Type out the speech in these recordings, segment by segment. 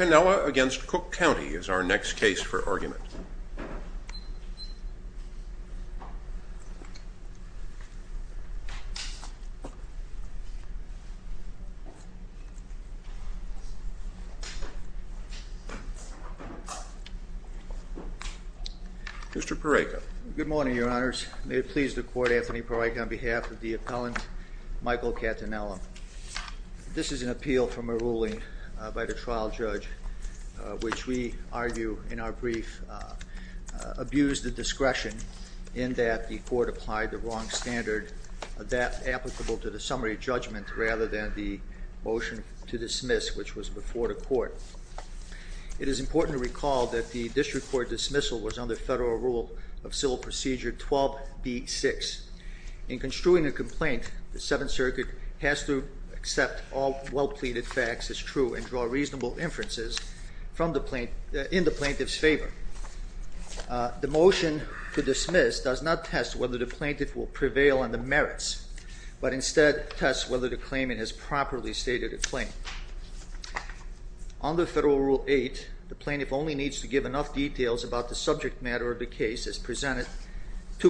Catinella v. Cook County is our next case for argument. Mr. Pareca. Good morning, your honors. May it please the court, Anthony Pareca, on behalf of the appellant, Michael Catinella. This is an appeal from a ruling by the trial judge, which we argue in our brief abused the discretion in that the court applied the wrong standard that applicable to the summary judgment rather than the motion to dismiss, which was before the court. It is important to recall that the district court dismissal was under federal rule of civil procedure 12B6. In construing a complaint, the Seventh Circuit has to accept all well-pleaded facts as true and draw reasonable inferences in the plaintiff's favor. The motion to dismiss does not test whether the plaintiff will prevail on the merits, but instead tests whether the claimant has properly stated a claim. Under federal rule 8, the plaintiff only needs to give enough details about the subject matter of the case to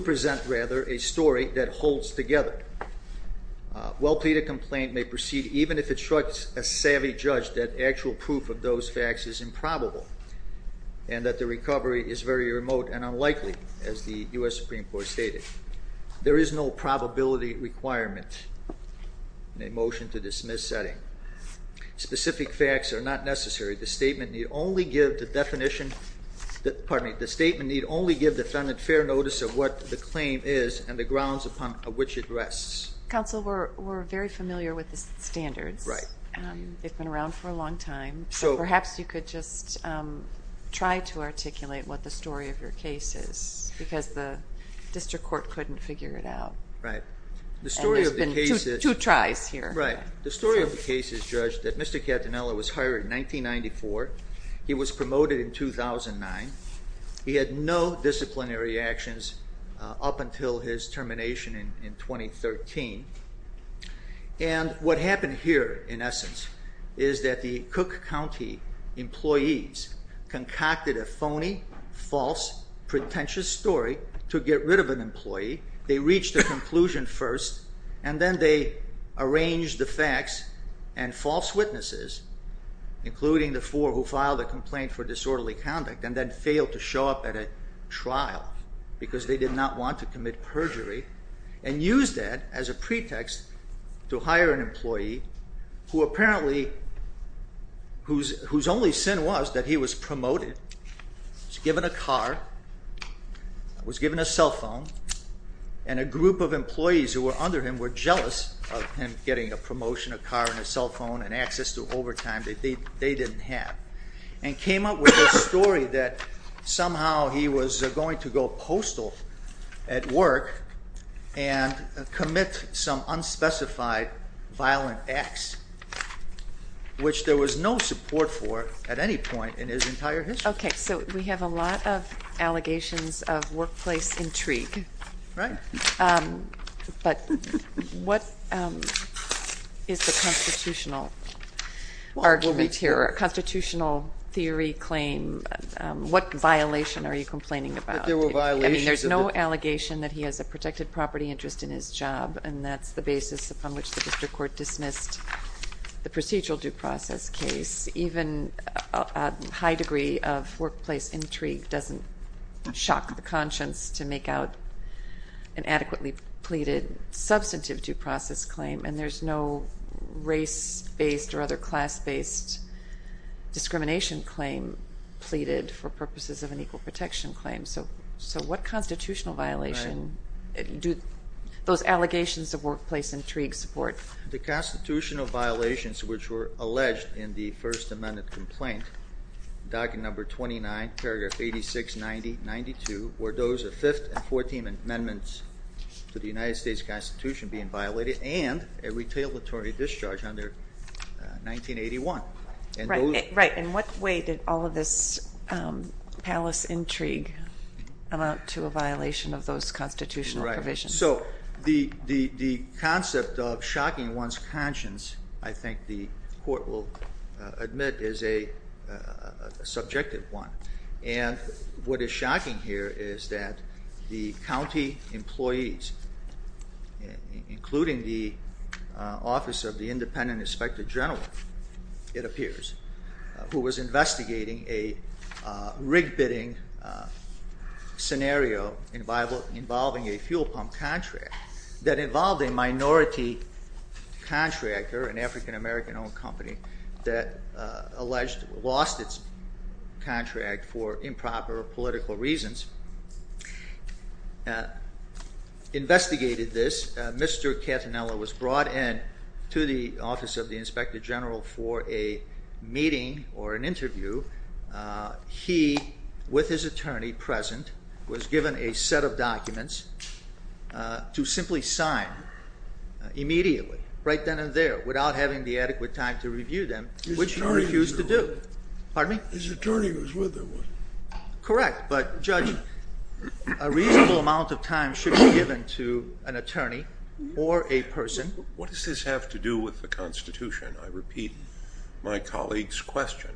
present, rather, a story that holds together. A well-pleaded complaint may proceed even if it strikes a savvy judge that actual proof of those facts is improbable and that the recovery is very remote and unlikely, as the U.S. Supreme Court stated. There is no probability requirement in a motion to dismiss setting. Specific facts are not necessary. The statement need only give the defendant fair notice of what the claim is and the grounds upon which it rests. Counsel, we're very familiar with the standards. They've been around for a long time, so perhaps you could just try to articulate what the story of your case is, because the district court couldn't figure it out. And there's been two tries here. Right. The story of the case is, Judge, that Mr. Catanella was hired in 1994. He was promoted in 2009. He had no disciplinary actions up until his termination in 2013. And what happened here, in essence, is that the Cook County employees concocted a phony, false, pretentious story to get rid of an employee. They reached a conclusion first, and then they arranged the facts and false witnesses, including the four who filed a complaint for disorderly conduct, and then failed to show up at a trial because they did not want to commit perjury, and used that as a pretext to hire an employee whose only sin was that he was promoted, was given a car, was given a cell phone, and a group of employees who were under him were jealous of him getting a promotion, a car, and a cell phone, and access to overtime that they didn't have, and came up with a story that somehow he was going to go postal at work and commit some unspecified violent acts, which there was no support for at any point in his entire history. Okay. So we have a lot of allegations of workplace intrigue. Right. But what is the constitutional argument here, constitutional theory claim? What violation are you complaining about? There were violations of it. substantive due process claim, and there's no race-based or other class-based discrimination claim pleaded for purposes of an equal protection claim. So what constitutional violation do those allegations of workplace intrigue support? The constitutional violations which were alleged in the First Amendment complaint, document number 29, paragraph 8690-92, were those of Fifth and Fourteenth Amendments to the United States Constitution being violated, and a retailatory discharge under 1981. Right. In what way did all of this palace intrigue amount to a violation of those constitutional provisions? So the concept of shocking one's conscience, I think the court will admit, is a subjective one. And what is shocking here is that the county employees, including the Office of the Independent Inspector General, it appears, who was investigating a rig bidding scenario involving a fuel pump contract that involved a minority contractor, an African-American-owned company that alleged lost its contract for improper political reasons, investigated this. Mr. Catanella was brought in to the Office of the Inspector General for a meeting or an interview. He, with his attorney present, was given a set of documents to simply sign immediately, right then and there, without having the adequate time to review them, which he refused to do. Pardon me? His attorney was with him, wasn't he? Correct. But, Judge, a reasonable amount of time should be given to an attorney or a person. What does this have to do with the Constitution? I repeat my colleague's question.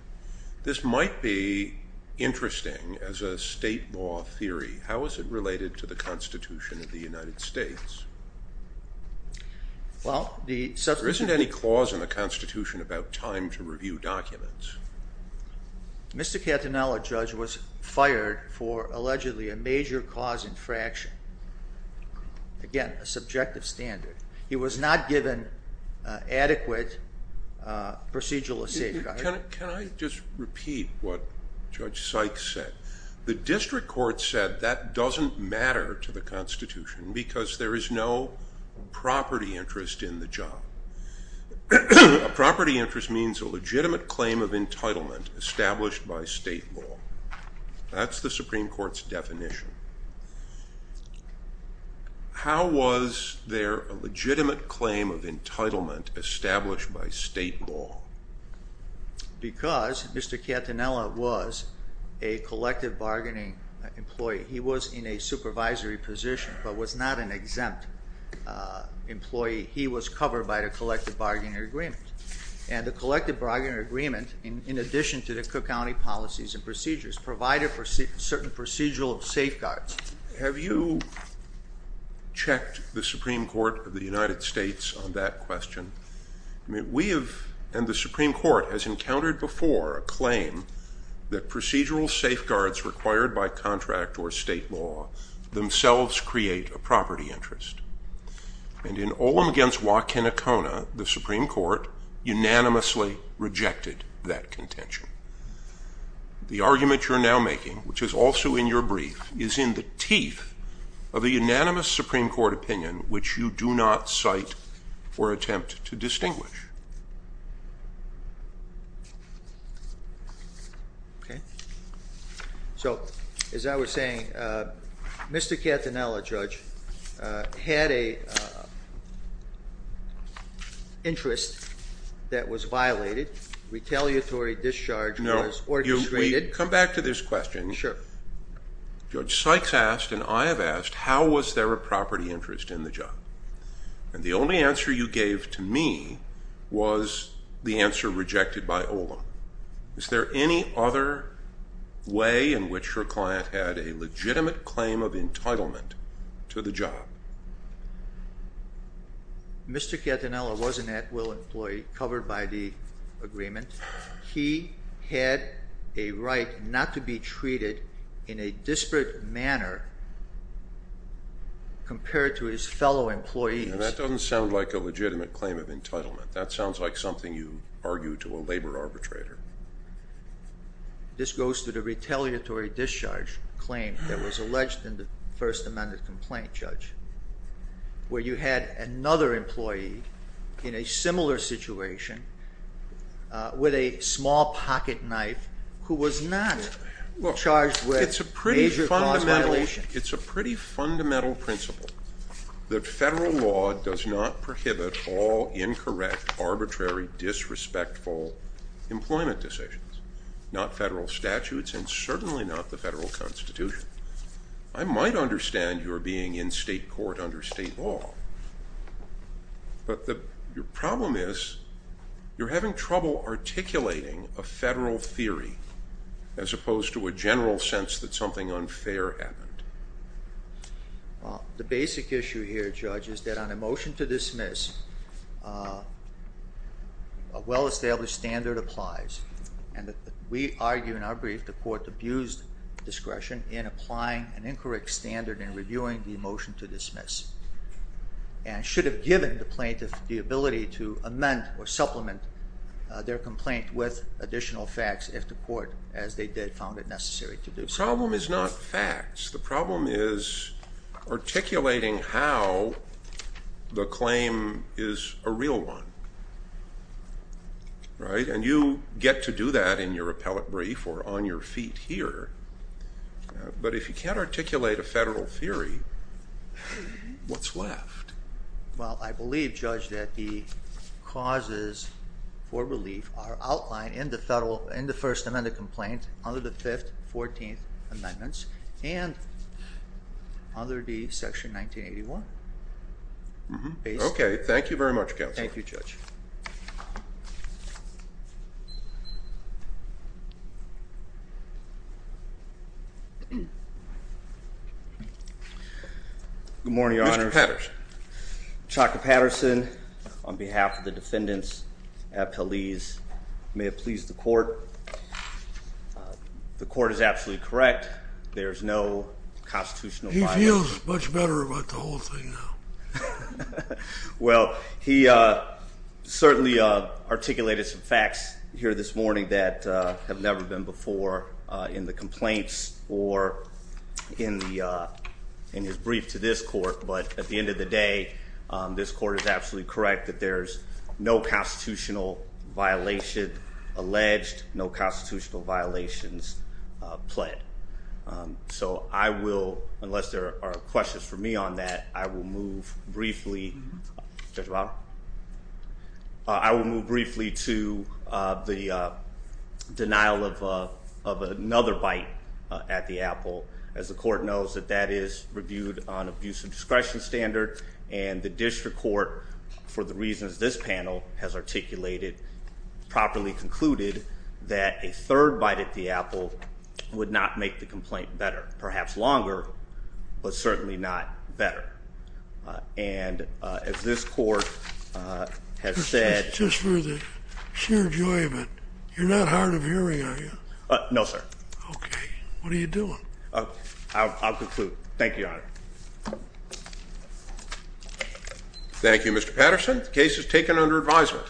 This might be interesting as a state law theory. How is it related to the Constitution of the United States? There isn't any clause in the Constitution about time to review documents. Mr. Catanella, Judge, was fired for allegedly a major cause infraction. Again, a subjective standard. He was not given adequate procedural safeguard. Can I just repeat what Judge Sykes said? The district court said that doesn't matter to the Constitution because there is no property interest in the job. A property interest means a legitimate claim of entitlement established by state law. That's the Supreme Court's definition. How was there a legitimate claim of entitlement established by state law? Because Mr. Catanella was a collective bargaining employee. He was in a supervisory position but was not an exempt employee. He was covered by the collective bargaining agreement. And the collective bargaining agreement, in addition to the Cook County policies and procedures, provided for certain procedural safeguards. Have you checked the Supreme Court of the United States on that question? We have, and the Supreme Court, has encountered before a claim that procedural safeguards required by contract or state law themselves create a property interest. And in Olam v. Wakanakona, the Supreme Court unanimously rejected that contention. The argument you're now making, which is also in your brief, is in the teeth of a unanimous Supreme Court opinion which you do not cite or attempt to distinguish. Okay. So, as I was saying, Mr. Catanella, Judge, had an interest that was violated. Retaliatory discharge was orchestrated. No. Come back to this question. Sure. Judge Sykes asked, and I have asked, how was there a property interest in the job? And the only answer you gave to me was the answer rejected by Olam. Is there any other way in which your client had a legitimate claim of entitlement to the job? Mr. Catanella was an at-will employee covered by the agreement. He had a right not to be treated in a disparate manner compared to his fellow employees. And that doesn't sound like a legitimate claim of entitlement. That sounds like something you argue to a labor arbitrator. This goes to the retaliatory discharge claim that was alleged in the First Amendment complaint, Judge, where you had another employee in a similar situation with a small pocket knife who was not charged with a major cause of violation. It's a pretty fundamental principle that federal law does not prohibit all incorrect, arbitrary, disrespectful employment decisions. Not federal statutes and certainly not the federal Constitution. I might understand your being in state court under state law. But the problem is you're having trouble articulating a federal theory as opposed to a general sense that something unfair happened. Well, the basic issue here, Judge, is that on a motion to dismiss, a well-established standard applies. And we argue in our brief the court abused discretion in applying an incorrect standard in reviewing the motion to dismiss. And should have given the plaintiff the ability to amend or supplement their complaint with additional facts if the court, as they did, found it necessary to do so. The problem is not facts. The problem is articulating how the claim is a real one. Right? And you get to do that in your appellate brief or on your feet here. But if you can't articulate a federal theory, what's left? Well, I believe, Judge, that the causes for relief are outlined in the First Amendment complaint under the Fifth, Fourteenth Amendments and under the Section 1981. Okay. Thank you very much, Counselor. Thank you, Judge. Good morning, Your Honors. Mr. Patterson. Chaka Patterson, on behalf of the defendants appellees, may it please the court. The court is absolutely correct. There is no constitutional violation. He feels much better about the whole thing now. Well, he certainly articulated some facts here this morning that have never been before in the complaints or in his brief to this court. But at the end of the day, this court is absolutely correct that there's no constitutional violation alleged, no constitutional violations pled. So I will, unless there are questions for me on that, I will move briefly. I will move briefly to the denial of another bite at the apple. As the court knows that that is reviewed on abuse of discretion standard. And the district court, for the reasons this panel has articulated, properly concluded that a third bite at the apple would not make the complaint better. Perhaps longer, but certainly not better. And as this court has said... Just for the sheer joy of it, you're not hard of hearing, are you? No, sir. Okay. What are you doing? I'll conclude. Thank you, Your Honor. Thank you, Mr. Patterson. The case is taken under advisement.